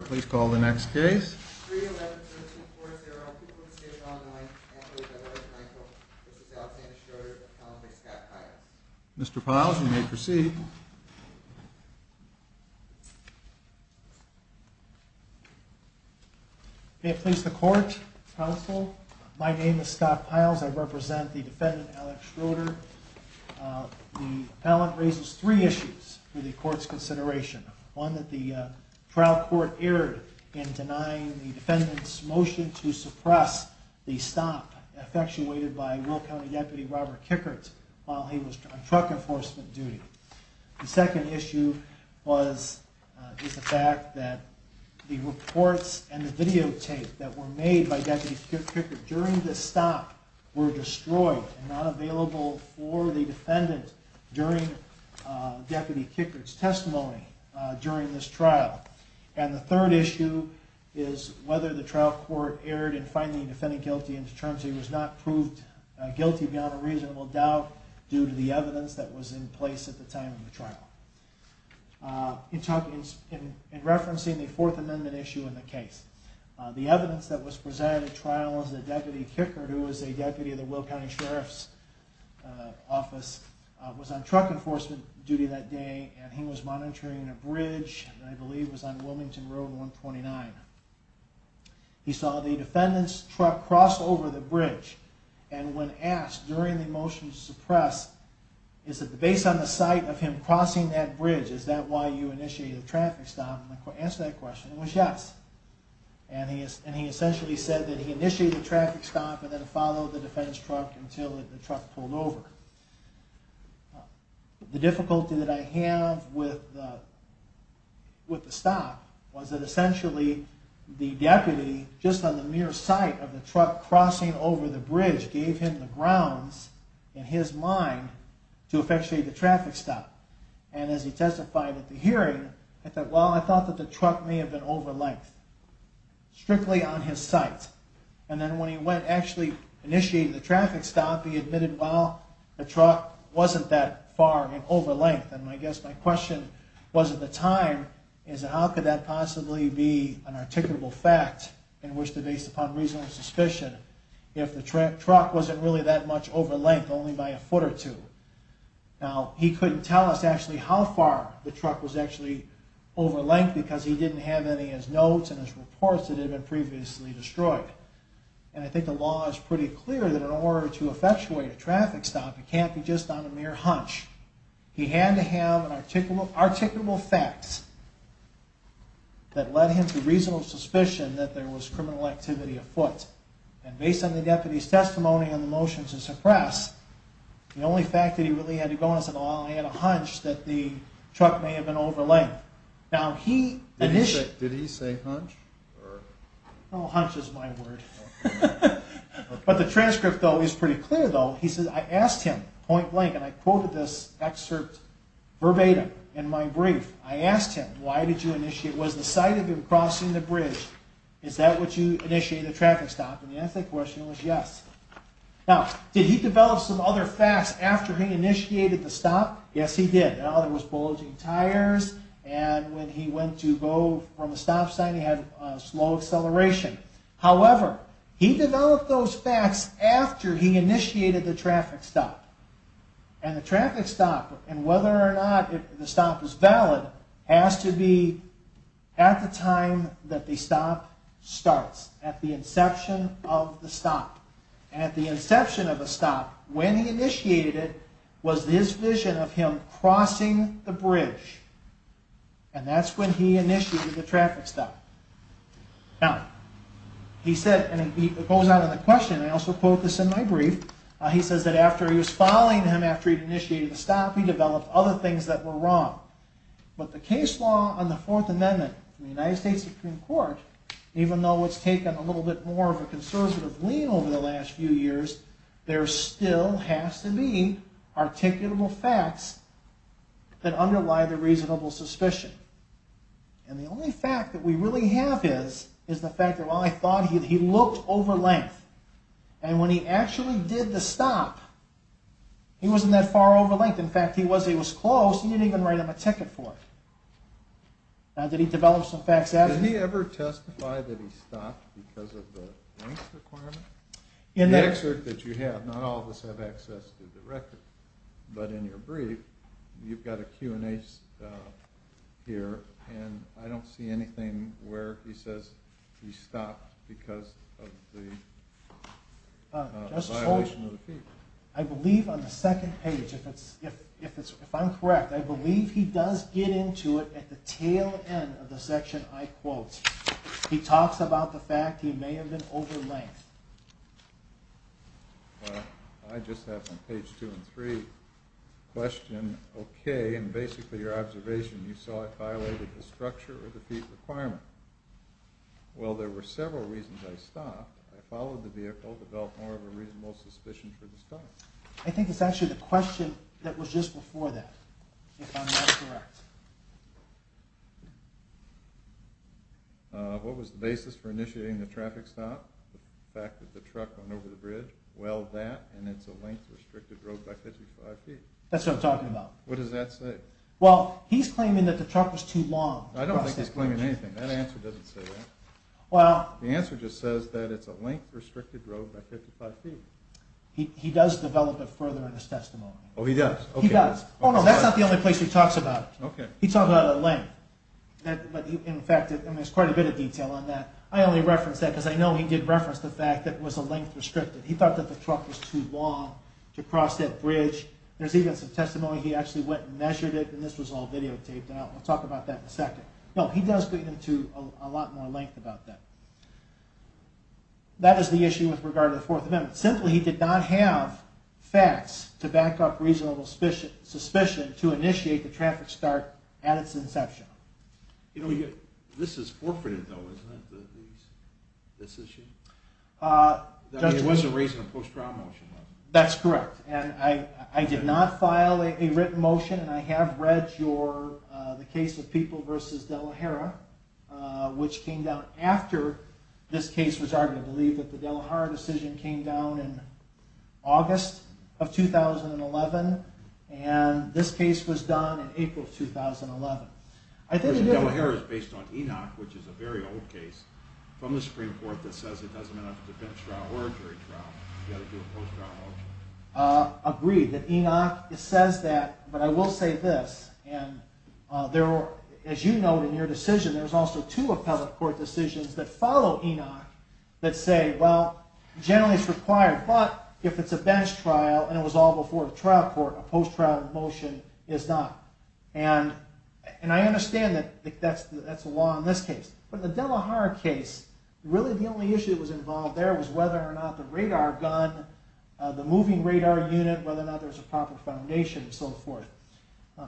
Please call the next case. Mr. Piles, you may proceed. May it please the court, counsel, my name is Scott Piles. I represent the defendant Alex Schroeder. The appellant raises three issues for the court's consideration. One that the trial court erred in denying the defendant's motion to suppress the stop effectuated by Will County Deputy Robert Kickert while he was on truck enforcement duty. The second issue is the fact that the reports and the videotape that were made by Deputy Kickert during this stop were destroyed and not available for the defendant during Deputy Kickert's testimony during this trial. And the third issue is whether the trial court erred in finding the defendant guilty in terms that he was not proved guilty beyond a reasonable doubt due to the evidence that was in place at the time of the trial. In referencing the Fourth Amendment issue in the case, the evidence that was presented at trial was that Deputy Kickert, who was a deputy of the Will County Sheriff's Office, was on truck enforcement duty that day and he was monitoring a bridge that I believe was on Wilmington Road 129. He saw the defendant's truck cross over the bridge and when asked during the motion to suppress, is it based on the sight of him crossing that bridge, is that why you initiated the traffic stop, the answer to that question was yes. And he essentially said that he initiated the traffic stop and then followed the defendant's truck until the truck pulled over. The difficulty that I have with the stop was that essentially the deputy, just on the mere sight of the truck crossing over the bridge, gave him the grounds in his mind to effectuate the traffic stop. And as he testified at the hearing, he said, well, I thought that the truck may have been over length. Strictly on his sight. And then when he went and actually initiated the traffic stop, he admitted, well, the truck wasn't that far in over length. And I guess my question was at the time is how could that possibly be an articulable fact in which to base upon reasonable suspicion if the truck wasn't really that much over length, only by a foot or two. Now, he couldn't tell us actually how far the truck was actually over length because he didn't have any of his notes and his reports that had been previously destroyed. And I think the law is pretty clear that in order to effectuate a traffic stop, it can't be just on a mere hunch. He had to have an articulable fact that led him to reasonable suspicion that there was criminal activity afoot. And based on the deputy's testimony on the motion to suppress, the only fact that he really had to go on was, well, I had a hunch that the truck may have been over length. Did he say hunch? No, hunch is my word. But the transcript though is pretty clear though. He says, I asked him point blank, and I quoted this excerpt verbatim in my brief. I asked him, why did you initiate, was the sight of him crossing the bridge, is that what you initiated the traffic stop? And the answer to that question was yes. Now, did he develop some other facts after he initiated the stop? Yes, he did. There was bulging tires, and when he went to go from a stop sign, he had slow acceleration. However, he developed those facts after he initiated the traffic stop. And the traffic stop, and whether or not the stop is valid, has to be at the time that the stop starts, at the inception of the stop. And at the inception of the stop, when he initiated it, was his vision of him crossing the bridge. And that's when he initiated the traffic stop. Now, he said, and it goes on in the question, and I also quote this in my brief, he says that after he was following him after he initiated the stop, he developed other things that were wrong. But the case law on the Fourth Amendment in the United States Supreme Court, even though it's taken a little bit more of a conservative lean over the last few years, there still has to be articulable facts that underlie the reasonable suspicion. And the only fact that we really have is the fact that while I thought he looked over length, and when he actually did the stop, he wasn't that far over length. In fact, he was close. He didn't even write him a ticket for it. Now, did he develop some facts after? Did he ever testify that he stopped because of the length requirement? The excerpt that you have, not all of us have access to the record, but in your brief, you've got a Q&A here, and I don't see anything where he says he stopped because of the violation of the fee. I believe on the second page, if I'm correct, I believe he does get into it at the tail end of the section I quote. He talks about the fact that he may have been over length. Well, I just have on page two and three a question. Okay, and basically your observation, you saw it violated the structure of the fee requirement. Well, there were several reasons I stopped. I followed the vehicle, developed more of a reasonable suspicion for the stop. I think it's actually the question that was just before that, if I'm not correct. What was the basis for initiating the traffic stop? The fact that the truck went over the bridge? Well, that, and it's a length restricted road by 55 feet. That's what I'm talking about. What does that say? Well, he's claiming that the truck was too long. I don't think he's claiming anything. That answer doesn't say that. The answer just says that it's a length restricted road by 55 feet. He does develop it further in his testimony. Oh, he does? He does. Oh, no, that's not the only place he talks about it. Okay. He talks about a length, but in fact, there's quite a bit of detail on that. I only reference that because I know he did reference the fact that it was a length restricted. He thought that the truck was too long to cross that bridge. There's even some testimony he actually went and measured it, and this was all videotaped, and I'll talk about that in a second. No, he does get into a lot more length about that. That is the issue with regard to the Fourth Amendment. Simply, he did not have facts to back up reasonable suspicion to initiate the traffic start at its inception. This is forfeited, though, isn't it, this issue? He wasn't raising a post-trial motion. That's correct, and I did not file a written motion, and I have read the case of People v. De La Hara, which came down after this case was argued. I believe that the De La Hara decision came down in August of 2011, and this case was done in April of 2011. De La Hara is based on Enoch, which is a very old case from the Supreme Court that says it doesn't mean it's a defense trial or a jury trial. You've got to do a post-trial motion. I agree that Enoch says that, but I will say this. As you note in your decision, there's also two appellate court decisions that follow Enoch that say, well, generally it's required, but if it's a bench trial and it was all before the trial court, a post-trial motion is not. I understand that that's the law in this case, but in the De La Hara case, really the only issue that was involved there was whether or not the radar gun, the moving radar unit, whether or not there was a proper foundation and so forth.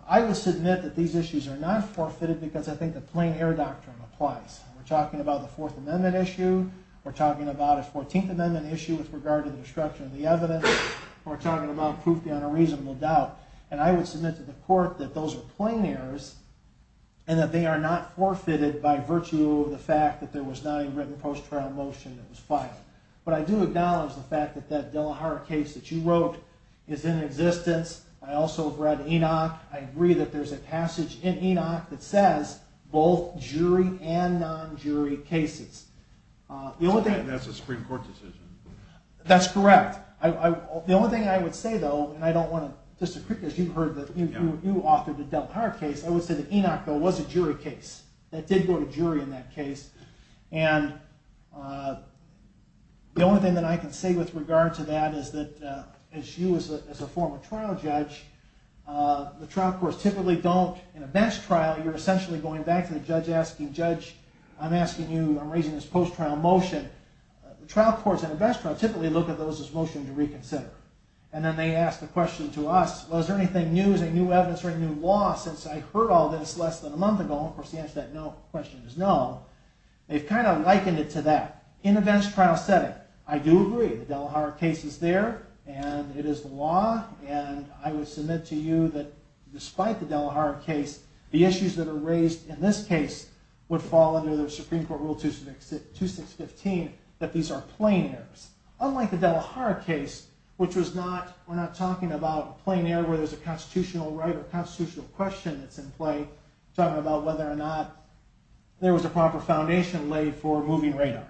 I will submit that these issues are not forfeited because I think the plain error doctrine applies. We're talking about the Fourth Amendment issue. We're talking about a Fourteenth Amendment issue with regard to the destruction of the evidence. We're talking about proof beyond a reasonable doubt, and I would submit to the court that those are plain errors and that they are not forfeited by virtue of the fact that there was not a written post-trial motion that was filed. But I do acknowledge the fact that that De La Hara case that you wrote is in existence. I also have read Enoch. I agree that there's a passage in Enoch that says both jury and non-jury cases. That's a Supreme Court decision. That's correct. The only thing I would say, though, and I don't want to disagree because you authored the De La Hara case, I would say that Enoch, though, was a jury case. That did go to jury in that case. And the only thing that I can say with regard to that is that as you, as a former trial judge, the trial courts typically don't, in a best trial, you're essentially going back to the judge asking, Judge, I'm asking you, I'm raising this post-trial motion. The trial courts in a best trial typically look at those as motions to reconsider. And then they ask the question to us, well, is there anything new? Is there any new evidence or any new law since I heard all this less than a month ago? Of course, the answer to that no question is no. They've kind of likened it to that in a best trial setting. I do agree. The De La Hara case is there, and it is the law, and I would submit to you that despite the De La Hara case, the issues that are raised in this case would fall under the Supreme Court Rule 2615, that these are plain errors. Unlike the De La Hara case, which was not, we're not talking about a plain error where there's a constitutional right or constitutional question that's in play. We're talking about whether or not there was a proper foundation laid for moving radar.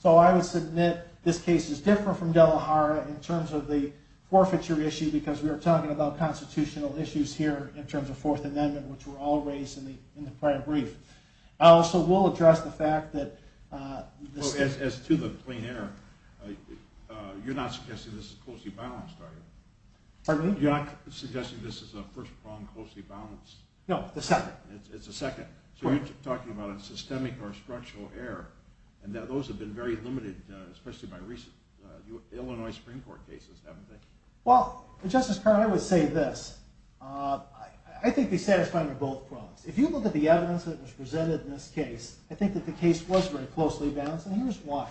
So I would submit this case is different from De La Hara in terms of the forfeiture issue because we are talking about constitutional issues here in terms of Fourth Amendment, which were all raised in the prior brief. I also will address the fact that this case. As to the plain error, you're not suggesting this is closely balanced, are you? Pardon me? You're not suggesting this is a first-pronged closely balanced? No, the second. It's the second. So you're talking about a systemic or structural error, and those have been very limited, especially by recent Illinois Supreme Court cases, haven't they? Well, Justice Carter, I would say this. I think they satisfy under both prongs. If you look at the evidence that was presented in this case, I think that the case was very closely balanced, and here's why.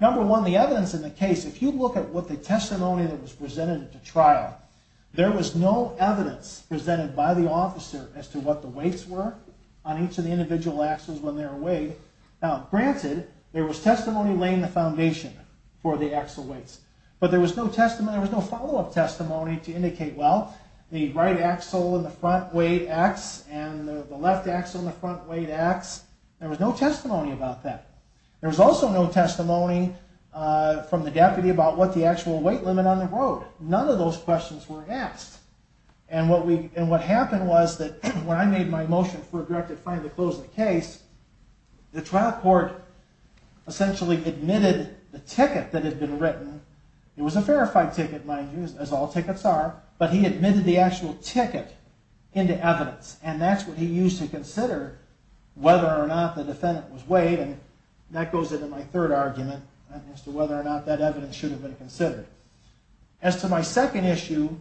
Number one, the evidence in the case, if you look at what the testimony that was presented at the trial, there was no evidence presented by the officer as to what the weights were on each of the individual axles when they were weighed. Now, granted, there was testimony laying the foundation for the axle weights, but there was no follow-up testimony to indicate, well, the right axle in the front weighed X, and the left axle in the front weighed X. There was no testimony about that. There was also no testimony from the deputy about what the actual weight limit on the road. None of those questions were asked, and what happened was that when I made my motion for a directive finally to close the case, the trial court essentially admitted the ticket that had been written. It was a verified ticket, mind you, as all tickets are, but he admitted the actual ticket into evidence, and that's what he used to consider whether or not the defendant was weighed, and that goes into my third argument as to whether or not that evidence should have been considered. As to my second issue,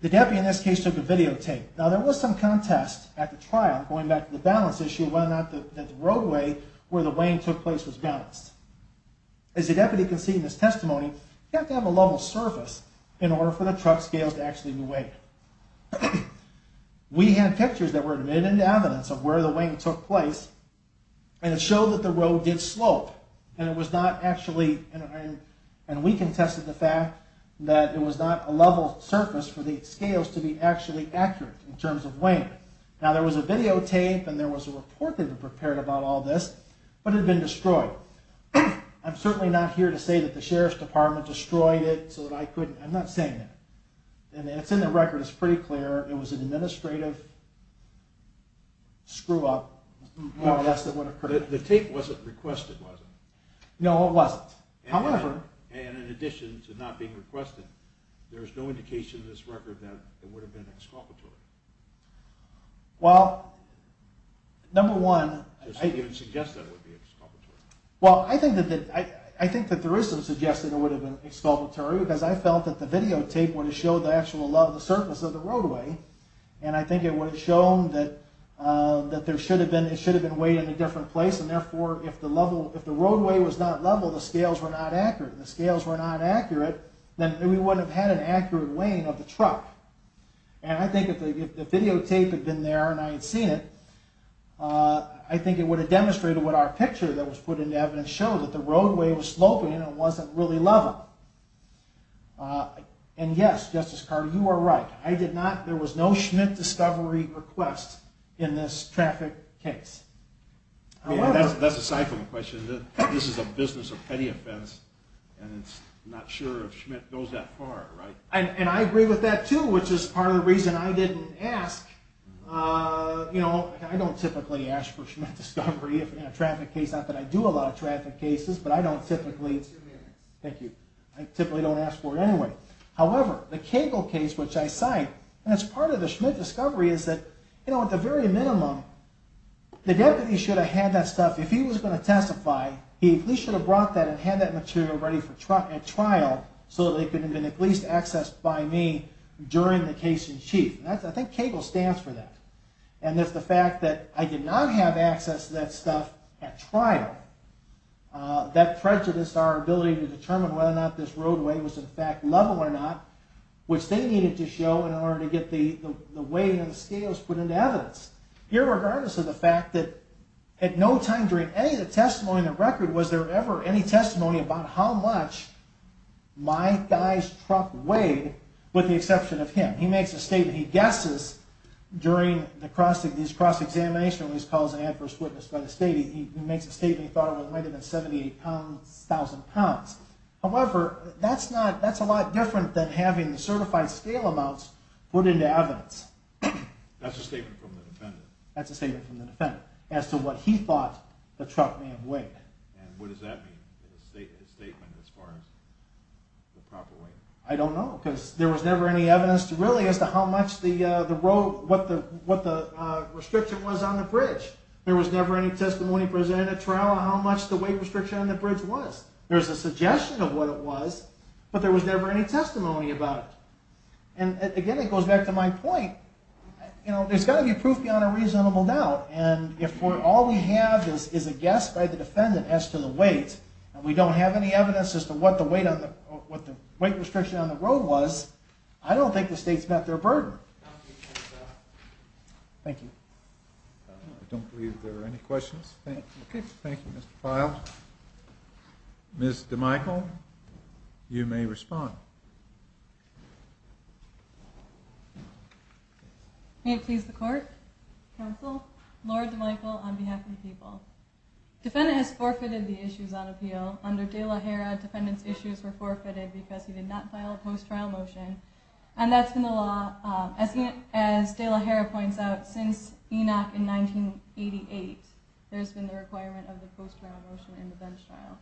the deputy in this case took a videotape. Now, there was some contest at the trial going back to the balance issue of whether or not the roadway where the weighing took place was balanced. As the deputy conceded in his testimony, you have to have a level surface in order for the truck scales to actually be weighed. We had pictures that were admitted into evidence of where the weighing took place, and it showed that the road did slope, and it was not actually, and we contested the fact that it was not a level surface for the scales to be actually accurate in terms of weighing. Now, there was a videotape, and there was a report that had been prepared about all this, but it had been destroyed. I'm certainly not here to say that the sheriff's department destroyed it so that I couldn't. I'm not saying that, and it's in the record. It's pretty clear it was an administrative screw-up. The tape wasn't requested, was it? No, it wasn't. And in addition to not being requested, there is no indication in this record that it would have been exculpatory. Well, number one, I think that there is some suggestion it would have been exculpatory because I felt that the videotape would have showed the actual level of the surface of the roadway, and I think it would have shown that it should have been weighed in a different place, and therefore, if the roadway was not level, the scales were not accurate. If the scales were not accurate, then we wouldn't have had an accurate weighing of the truck. And I think if the videotape had been there and I had seen it, I think it would have demonstrated what our picture that was put into evidence showed, that the roadway was sloping and it wasn't really level. And yes, Justice Carter, you are right. There was no Schmidt discovery request in this traffic case. That's aside from the question. This is a business of petty offense, and it's not sure if Schmidt goes that far, right? And I agree with that, too, which is part of the reason I didn't ask. You know, I don't typically ask for Schmidt discovery in a traffic case. Not that I do a lot of traffic cases, but I don't typically. Thank you. I typically don't ask for it anyway. However, the Cagle case, which I cite, and it's part of the Schmidt discovery, is that, you know, at the very minimum, the deputy should have had that stuff. If he was going to testify, he at least should have brought that and had that material ready at trial so that it could have been at least accessed by me during the case in chief. And I think Cagle stands for that. And if the fact that I did not have access to that stuff at trial, that prejudiced our ability to determine whether or not this roadway was, in fact, level or not, which they needed to show in order to get the weight and the scales put into evidence. Here, regardless of the fact that at no time during any of the testimony in the record was there ever any testimony about how much my guy's truck weighed with the exception of him. He makes a statement. He guesses during these cross-examination when he's called an adverse witness by the state. He makes a statement. He thought it was lighter than 78,000 pounds. However, that's a lot different than having the certified scale amounts put into evidence. That's a statement from the defendant. That's a statement from the defendant as to what he thought the truck may have weighed. And what does that mean, his statement as far as the proper weight? I don't know because there was never any evidence really as to how much the road, what the restriction was on the bridge. There was never any testimony presented at trial on how much the weight restriction on the bridge was. There was a suggestion of what it was, but there was never any testimony about it. And, again, it goes back to my point, you know, there's got to be proof beyond a reasonable doubt. And if all we have is a guess by the defendant as to the weight and we don't have any evidence as to what the weight restriction on the road was, I don't think the state's met their burden. Thank you. I don't believe there are any questions. Thank you, Mr. Pyle. Ms. DeMichel, you may respond. May it please the Court, Counsel, Lord DeMichel on behalf of the people. Defendant has forfeited the issues on appeal. Under De La Hera, defendant's issues were forfeited because he did not file a post-trial motion, and that's been the law, as De La Hera points out, since Enoch in 1988. There's been the requirement of the post-trial motion in the bench trial.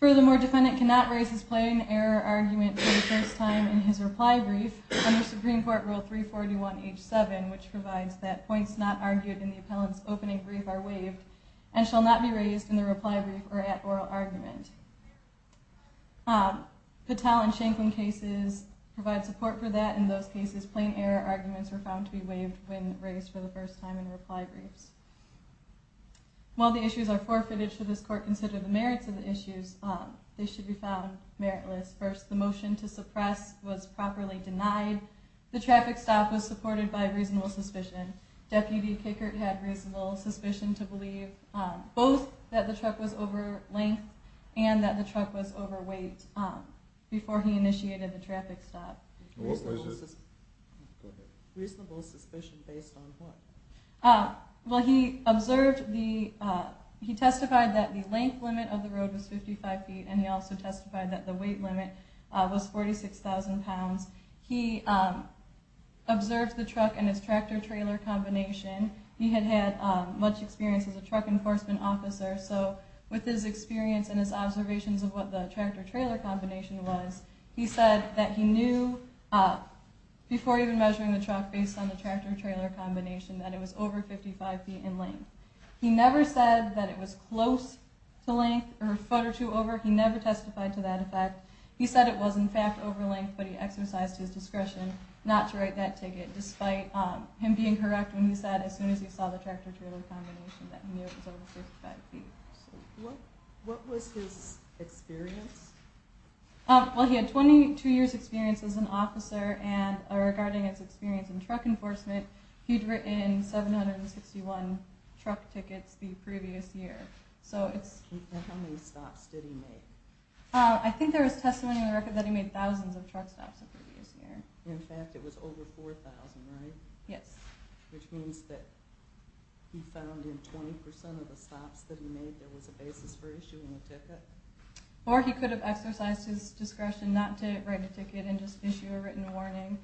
Furthermore, defendant cannot raise his plain error argument for the first time in his reply brief under Supreme Court Rule 341H7, which provides that points not argued in the appellant's opening brief are waived and shall not be raised in the reply brief or at oral argument. Patel and Shanklin cases provide support for that. In those cases, plain error arguments were found to be waived when raised for the first time in reply briefs. While the issues are forfeited, should this Court consider the merits of the issues, they should be found meritless. First, the motion to suppress was properly denied. The traffic stop was supported by reasonable suspicion. Deputy Kickert had reasonable suspicion to believe both that the truck was over length and that the truck was overweight before he initiated the traffic stop. Reasonable suspicion based on what? He testified that the length limit of the road was 55 feet and he also testified that the weight limit was 46,000 pounds. He observed the truck and its tractor-trailer combination. He had had much experience as a truck enforcement officer, so with his experience and his observations of what the tractor-trailer combination was, he said that he knew before even measuring the truck based on the tractor-trailer combination that it was over 55 feet in length. He never said that it was close to length or a foot or two over. He never testified to that effect. He said it was in fact over length, but he exercised his discretion not to write that ticket, despite him being correct when he said as soon as he saw the tractor-trailer combination that he knew it was over 55 feet. What was his experience? Well, he had 22 years' experience as an officer, and regarding his experience in truck enforcement, he'd written 761 truck tickets the previous year. How many stops did he make? I think there was testimony in the record that he made thousands of truck stops the previous year. In fact, it was over 4,000, right? Yes. Which means that he found in 20% of the stops that he made there was a basis for issuing a ticket? Or he could have exercised his discretion not to write a ticket and just issue a written warning.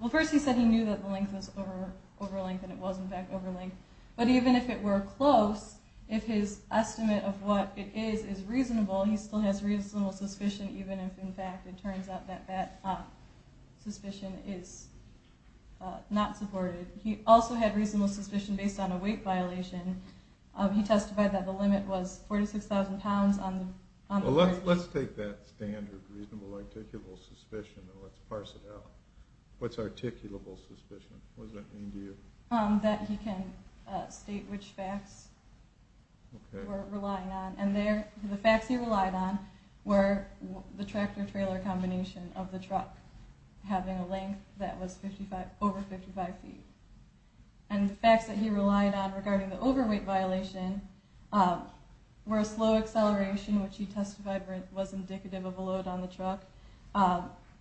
Well, first he said he knew that the length was over length, and it was in fact over length. But even if it were close, if his estimate of what it is is reasonable, he still has reasonable suspicion, even if in fact it turns out that that suspicion is not supported. He also had reasonable suspicion based on a weight violation. He testified that the limit was 46,000 pounds. Well, let's take that standard reasonable articulable suspicion and let's parse it out. What's articulable suspicion? What does that mean to you? That he can state which facts we're relying on. And the facts he relied on were the tractor-trailer combination of the truck having a length that was over 55 feet. And the facts that he relied on regarding the overweight violation were a slow acceleration, which he testified was indicative of a load on the truck.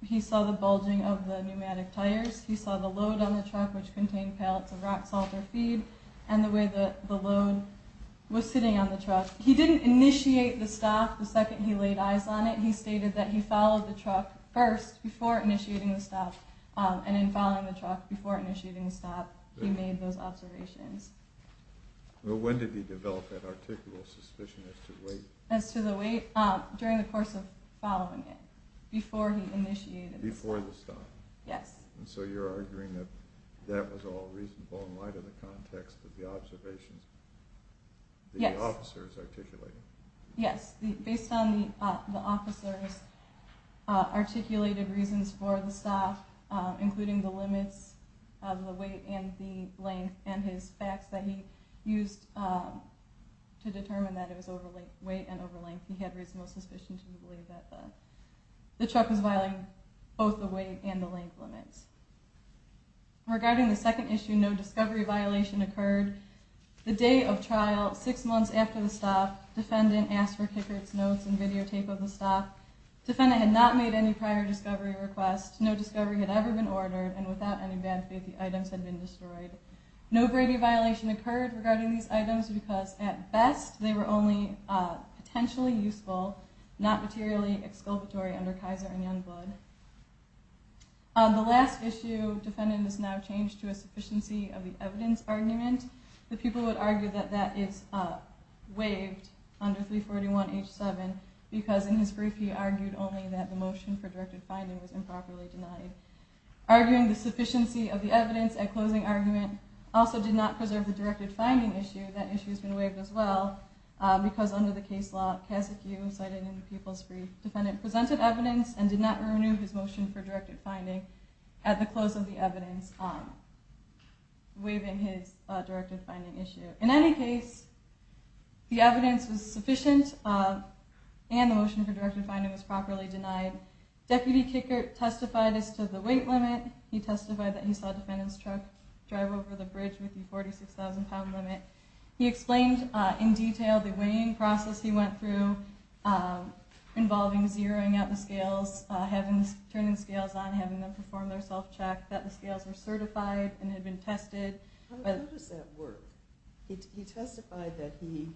He saw the bulging of the pneumatic tires. He saw the load on the truck, which contained pallets of rock salt or feed, and the way the load was sitting on the truck. He didn't initiate the stop the second he laid eyes on it. He stated that he followed the truck first before initiating the stop, and in following the truck before initiating the stop, he made those observations. Well, when did he develop that articulable suspicion as to weight? As to the weight? During the course of following it, before he initiated it. Before the stop? Yes. And so you're arguing that that was all reasonable in light of the context of the observations that the officer is articulating? Yes. Based on the officer's articulated reasons for the stop, including the limits of the weight and the length, and his facts that he used to determine that it was overweight and over length, he had reasonable suspicion to believe that the truck was violating both the weight and the length limits. Regarding the second issue, no discovery violation occurred. The day of trial, six months after the stop, defendant asked for tickets, notes, and videotape of the stop. Defendant had not made any prior discovery requests. No discovery had ever been ordered, and without any bad faith the items had been destroyed. No brevity violation occurred regarding these items, because at best they were only potentially useful, not materially exculpatory under Kaiser and Youngblood. The last issue, defendant has now changed to a sufficiency of the evidence argument. The people would argue that that is waived under 341H7, because in his brief he argued only that the motion for directed finding was improperly denied. Arguing the sufficiency of the evidence at closing argument also did not preserve the directed finding issue. That issue has been waived as well, because under the case law, Kasekiu, cited in the people's brief, defendant presented evidence and did not renew his motion for directed finding at the close of the evidence, waiving his directed finding issue. In any case, the evidence was sufficient, and the motion for directed finding was properly denied. Deputy Kickert testified as to the weight limit. He testified that he saw defendant's truck drive over the bridge with the 46,000 pound limit. He explained in detail the weighing process he went through, involving zeroing out the scales, turning the scales on, having them perform their self-check, that the scales were certified and had been tested. How does that work? He testified that he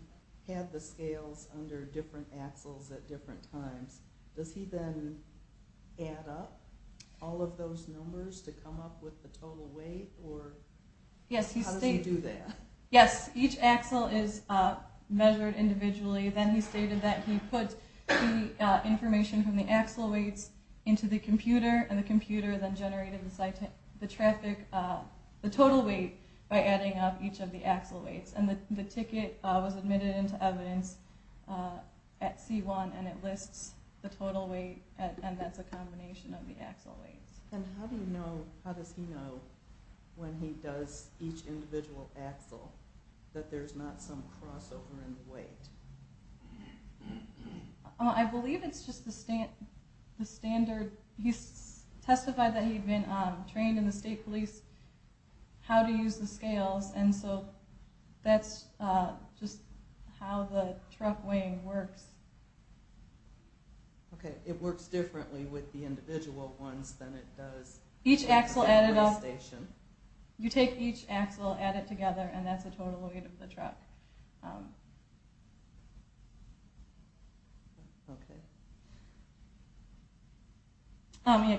had the scales under different axles at different times. Does he then add up all of those numbers to come up with the total weight, or how does he do that? Yes, each axle is measured individually. Then he stated that he put the information from the axle weights into the computer, and the computer then generated the total weight by adding up each of the axle weights. And the ticket was admitted into evidence at C1, and it lists the total weight, and that's a combination of the axle weights. And how does he know when he does each individual axle that there's not some crossover in the weight? I believe it's just the standard. He testified that he'd been trained in the state police how to use the scales, and so that's just how the truck weighing works. Okay. It works differently with the individual ones than it does with the weigh station. You take each axle, add it together, and that's the total weight of the truck.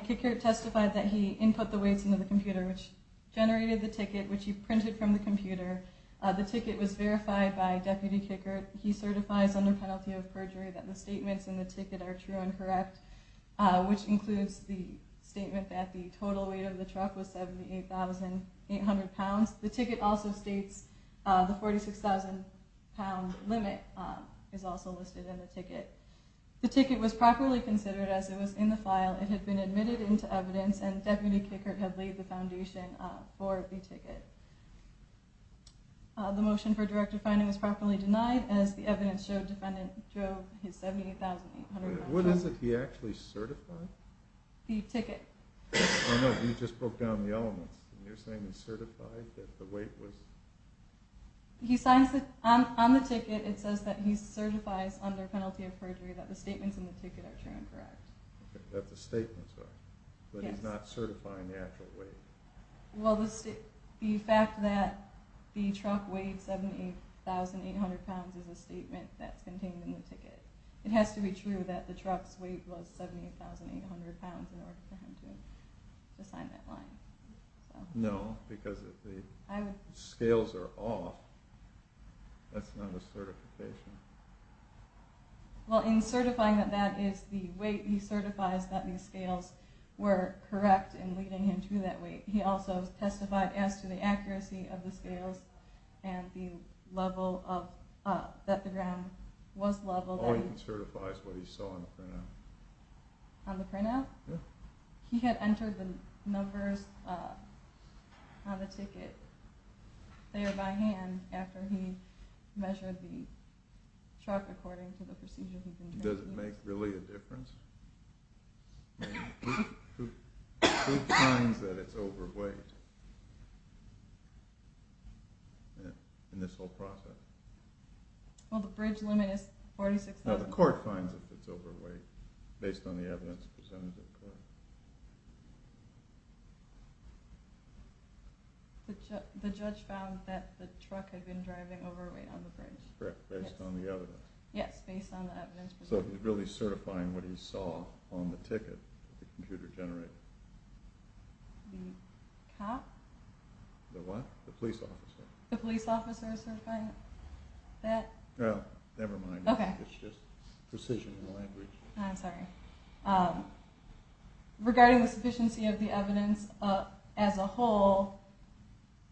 Kickert testified that he input the weights into the computer, which generated the ticket, which he printed from the computer. The ticket was verified by Deputy Kickert. He certifies under penalty of perjury that the statements in the ticket are true and correct, which includes the statement that the total weight of the truck was 78,800 pounds. The ticket also states the 46,000-pound limit is also listed in the ticket. The ticket was properly considered as it was in the file. It had been admitted into evidence, and Deputy Kickert had laid the foundation for the ticket. The motion for directive finding was properly denied, as the evidence showed defendant drove his 78,800 pounds truck. What is it he actually certified? The ticket. Oh, no, you just broke down the elements. You're saying he certified that the weight was? On the ticket, it says that he certifies under penalty of perjury that the statements in the ticket are true and correct. That the statements are. Yes. But he's not certifying the actual weight. Well, the fact that the truck weighed 78,800 pounds is a statement that's contained in the ticket. It has to be true that the truck's weight was 78,800 pounds in order for him to sign that line. No, because if the scales are off, that's not a certification. Well, in certifying that that is the weight, he certifies that the scales were correct in leading him to that weight. He also testified as to the accuracy of the scales and that the ground was level. All he can certify is what he saw on the printout. On the printout? Yeah. He had entered the numbers on the ticket there by hand after he measured the truck according to the procedure he'd been given. Does it make really a difference? Who finds that it's overweight in this whole process? Well, the bridge limit is 46,000 pounds. No, the court finds that it's overweight based on the evidence presented to the court. The judge found that the truck had been driving overweight on the bridge. Correct, based on the evidence. Yes, based on the evidence presented. So he's really certifying what he saw on the ticket that the computer generated. The cop? The what? The police officer. The police officer is certifying that? Well, never mind. Okay. It's just precision in the land bridge. I'm sorry. Regarding the sufficiency of the evidence as a whole,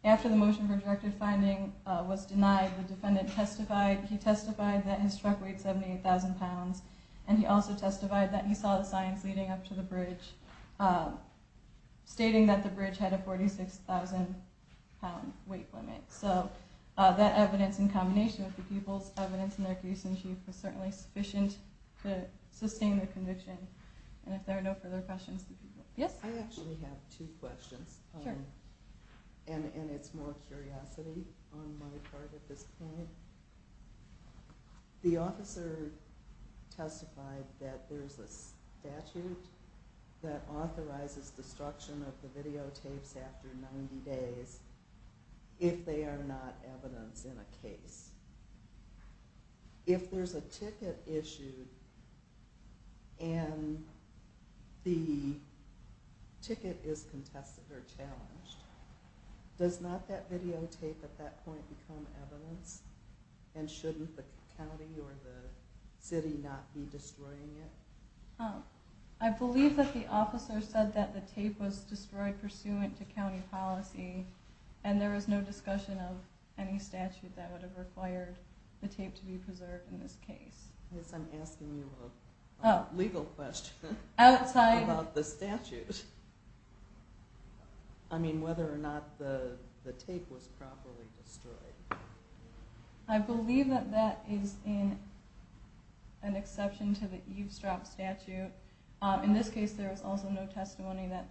after the motion for directive finding was denied, the defendant testified. He testified that his truck weighed 78,000 pounds, and he also testified that he saw the signs leading up to the bridge stating that the bridge had a 46,000 pound weight limit. So that evidence in combination with the people's evidence in their case was certainly sufficient to sustain the conviction. And if there are no further questions, yes? I actually have two questions. Sure. And it's more curiosity on my part at this point. The officer testified that there's a statute that authorizes destruction of the videotapes after 90 days if they are not evidence in a case. If there's a ticket issued and the ticket is contested or challenged, does not that videotape at that point become evidence, and shouldn't the county or the city not be destroying it? I believe that the officer said that the tape was destroyed pursuant to county policy, and there was no discussion of any statute that would have required the tape to be preserved in this case. I guess I'm asking you a legal question about the statute. I mean, whether or not the tape was properly destroyed. I believe that that is an exception to the eavesdrop statute. In this case, there was also no testimony that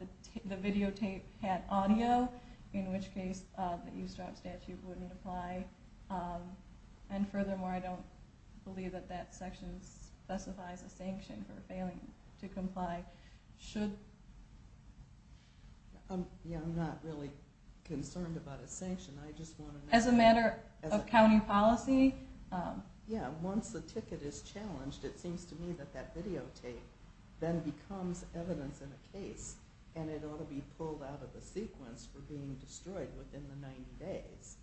the videotape had audio, in which case the eavesdrop statute wouldn't apply. And furthermore, I don't believe that that section specifies a sanction for failing to comply. I'm not really concerned about a sanction. As a matter of county policy? Yeah, once the ticket is challenged, it seems to me that that videotape then becomes evidence in a case, and it ought to be pulled out of the sequence for being destroyed within the 90 days.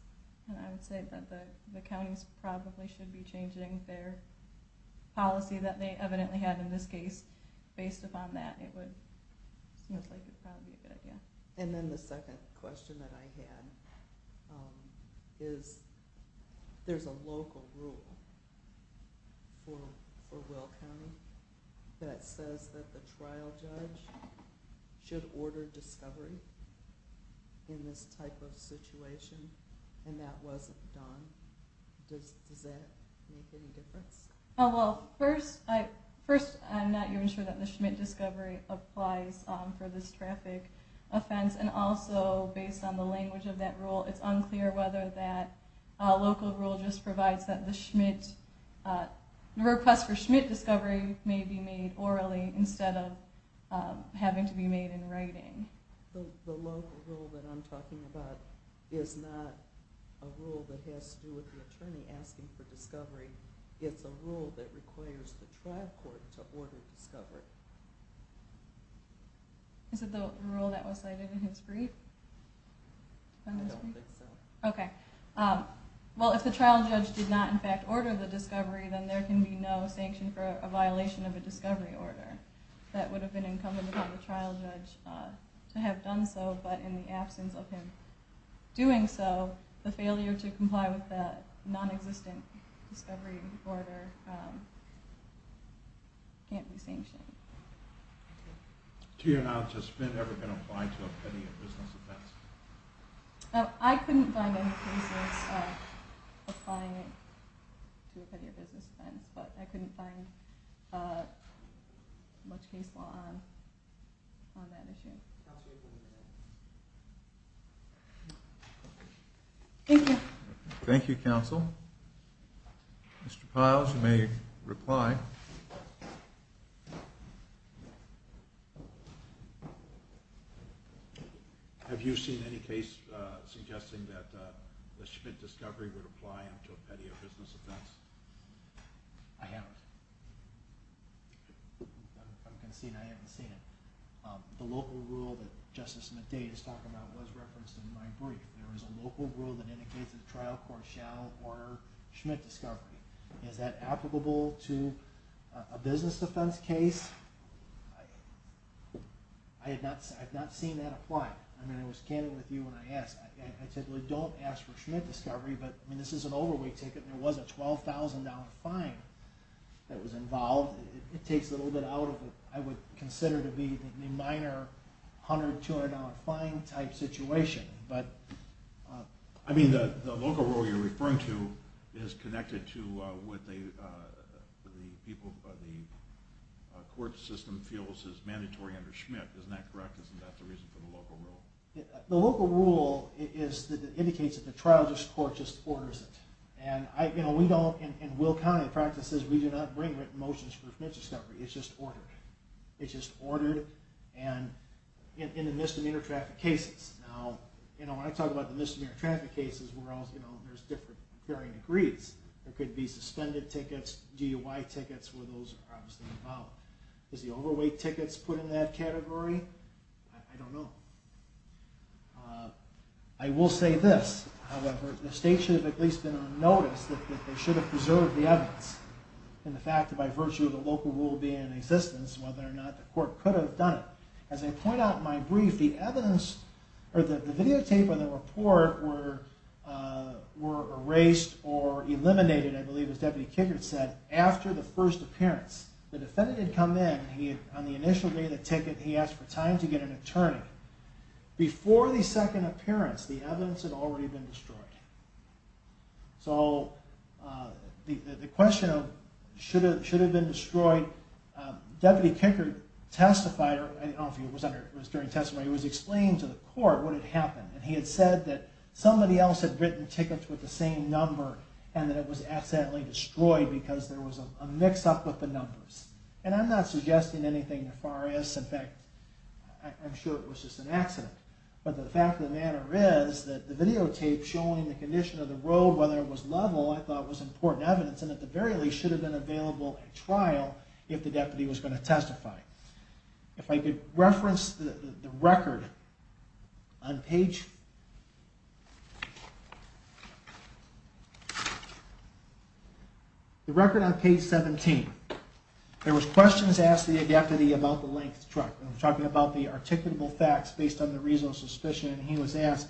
I would say that the counties probably should be changing their policy that they evidently had in this case. Based upon that, it seems like it would probably be a good idea. And then the second question that I had is there's a local rule for Will County that says that the trial judge should order discovery in this type of situation, and that wasn't done. Does that make any difference? Well, first, I'm not even sure that the Schmidt discovery applies for this traffic offense. And also, based on the language of that rule, it's unclear whether that local rule just provides that the request for Schmidt discovery may be made orally instead of having to be made in writing. The local rule that I'm talking about is not a rule that has to do with the attorney asking for discovery. It's a rule that requires the trial court to order discovery. Is it the rule that was cited in his brief? I don't think so. Okay. Well, if the trial judge did not, in fact, order the discovery, then there can be no sanction for a violation of a discovery order. That would have been incumbent upon the trial judge to have done so, but in the absence of him doing so, the failure to comply with that nonexistent discovery order can't be sanctioned. To your knowledge, has Schmidt ever been applied to a petty or business offense? I couldn't find any cases applying it to a petty or business offense, but I couldn't find much case law on that issue. Counsel, you have one minute. Thank you. Thank you, counsel. Mr. Piles, you may reply. Have you seen any case suggesting that the Schmidt discovery would apply to a petty or business offense? I haven't. I'm conceding I haven't seen it. The local rule that Justice McDade is talking about was referenced in my brief. There is a local rule that indicates that the trial court shall order Schmidt discovery. Is that applicable to a business offense case? I have not seen that apply. I was candid with you when I asked. I typically don't ask for Schmidt discovery, but this is an overweight ticket, and there was a $12,000 fine that was involved. It takes a little bit out of what I would consider to be the minor $100, $200 fine type situation. The local rule you're referring to is connected to what the court system feels is mandatory under Schmidt. Isn't that correct? Isn't that the reason for the local rule? The local rule indicates that the trial court just orders it. In Will County practices, we do not bring written motions for Schmidt discovery. It's just ordered. It's just ordered in the misdemeanor traffic cases. When I talk about the misdemeanor traffic cases, there's different varying degrees. There could be suspended tickets, DUI tickets, where those are obviously involved. Is the overweight tickets put in that category? I don't know. I will say this, however, the state should have at least been on notice that they should have preserved the evidence, and the fact that by virtue of the local rule being in existence, whether or not the court could have done it. As I point out in my brief, the videotape and the report were erased or eliminated, I believe as Deputy Kinkard said, after the first appearance. The defendant had come in. On the initial day of the ticket, he asked for time to get an attorney. Before the second appearance, the evidence had already been destroyed. So the question of should it have been destroyed, Deputy Kinkard testified, I don't know if it was during testimony, he was explaining to the court what had happened. He had said that somebody else had written tickets with the same number and that it was accidentally destroyed because there was a mix-up with the numbers. And I'm not suggesting anything nefarious. In fact, I'm sure it was just an accident. But the fact of the matter is that the videotape showing the condition of the road, whether it was level, I thought was important evidence, and at the very least should have been available at trial if the deputy was going to testify. If I could reference the record on page 17. There was questions asked of the deputy about the length truck. I'm talking about the articulable facts based on the reasonable suspicion. He was asked,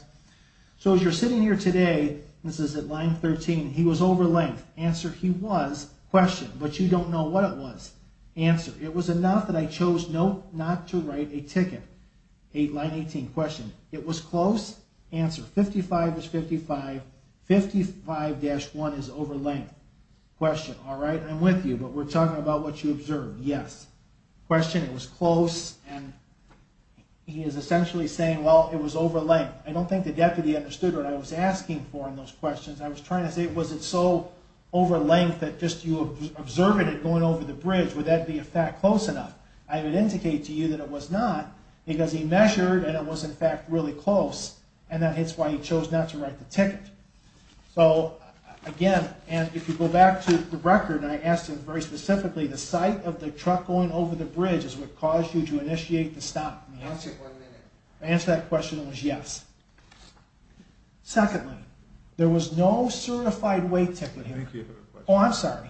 so as you're sitting here today, this is at line 13, he was over length. Answer, he was. Question, but you don't know what it was. Answer, it was enough that I chose not to write a ticket. Line 18, question, it was close. Answer, 55 is 55, 55-1 is over length. Question, all right, I'm with you, but we're talking about what you observed. Yes. Question, it was close. And he is essentially saying, well, it was over length. I don't think the deputy understood what I was asking for in those questions. I was trying to say, was it so over length that just you observed it going over the bridge? Would that be a fact close enough? I would indicate to you that it was not because he measured, and it was in fact really close, and that's why he chose not to write the ticket. So again, and if you go back to the record, and I asked him very specifically, the sight of the truck going over the bridge is what caused you to initiate the stop. Answer that question that was yes. Secondly, there was no certified wait ticket here. Oh, I'm sorry.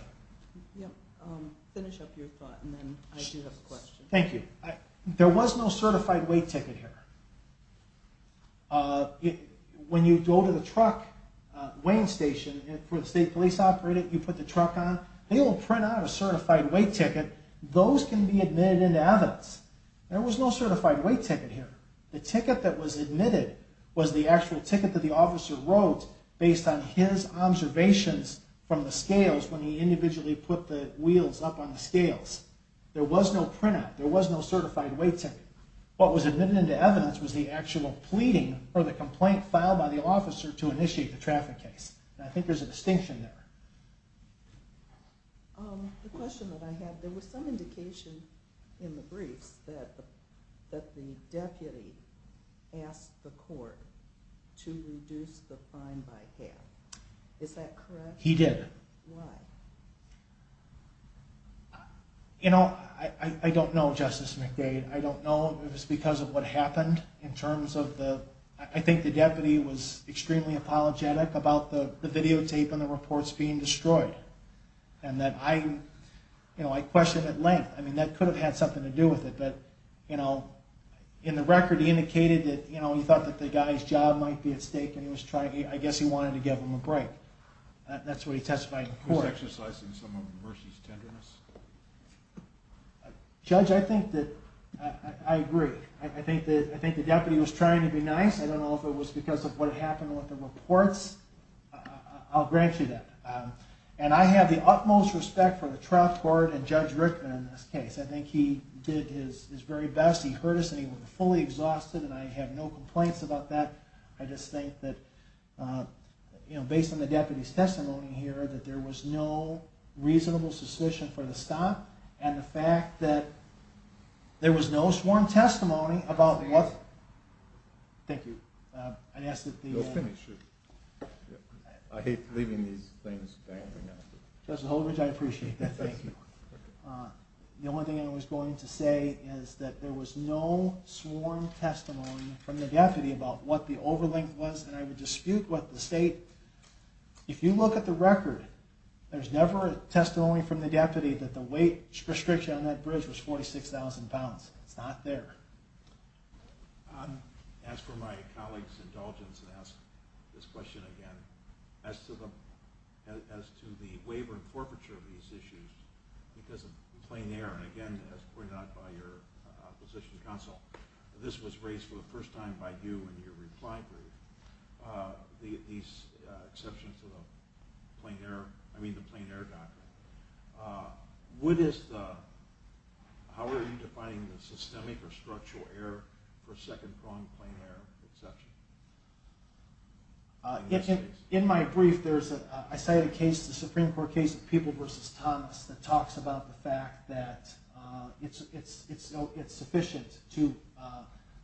Finish up your thought, and then I do have a question. Thank you. There was no certified wait ticket here. When you go to the truck weighing station for the state police operator, you put the truck on, they will print out a certified wait ticket. Those can be admitted into evidence. There was no certified wait ticket here. The ticket that was admitted was the actual ticket that the officer wrote based on his observations from the scales when he individually put the wheels up on the scales. There was no printout. There was no certified wait ticket. What was admitted into evidence was the actual pleading or the complaint filed by the officer to initiate the traffic case. I think there's a distinction there. The question that I had, there was some indication in the briefs that the deputy asked the court to reduce the fine by half. Is that correct? He did. Why? You know, I don't know, Justice McDade. I don't know if it was because of what happened in terms of the— I think the deputy was extremely apologetic about the videotape and the reports being destroyed, and that I questioned at length. I mean, that could have had something to do with it, but, you know, in the record he indicated that he thought that the guy's job might be at stake and he was trying—I guess he wanted to give him a break. That's what he testified in court. He was exercising some of Mercy's tenderness. Judge, I think that—I agree. I think the deputy was trying to be nice. I don't know if it was because of what happened with the reports. I'll grant you that. And I have the utmost respect for the trial court and Judge Rickman in this case. I think he did his very best. He heard us, and he was fully exhausted, and I have no complaints about that. I just think that, you know, based on the deputy's testimony here, that there was no reasonable suspicion for the stop and the fact that there was no sworn testimony about what— Thank you. Go finish. I hate leaving these things. Judge Holdridge, I appreciate that. The only thing I was going to say is that there was no sworn testimony from the deputy about what the overlink was, and I would dispute what the state— If you look at the record, there's never a testimony from the deputy that the weight restriction on that bridge was 46,000 pounds. It's not there. As for my colleague's indulgence in asking this question again, as to the waiver and forfeiture of these issues because of the plein air, and again, as pointed out by your position counsel, this was raised for the first time by you in your reply brief, these exceptions to the plein air—I mean the plein air doctrine. How are you defining the systemic or structural error for second-pronged plein air exception? In my brief, I cited a case, the Supreme Court case of People v. Thomas, that talks about the fact that it's sufficient to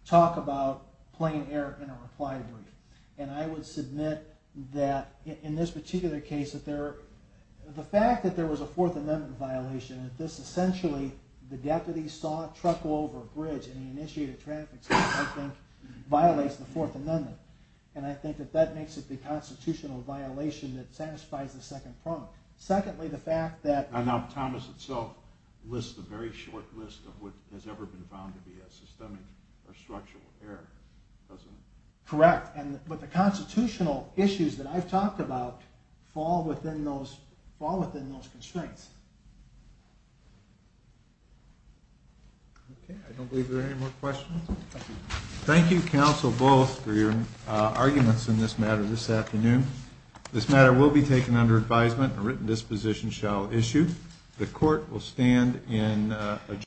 talk about plein air in a reply brief, and I would submit that in this particular case, the fact that there was a Fourth Amendment violation, that this essentially—the deputy saw a truck over a bridge and he initiated traffic, I think violates the Fourth Amendment, and I think that that makes it the constitutional violation that satisfies the second prong. Secondly, the fact that— Now, Thomas itself lists a very short list of what has ever been found to be a systemic or structural error, doesn't it? Correct, but the constitutional issues that I've talked about fall within those constraints. Okay, I don't believe there are any more questions. Thank you, counsel, both, for your arguments in this matter this afternoon. This matter will be taken under advisement. A written disposition shall issue. The court will stand in adjournment.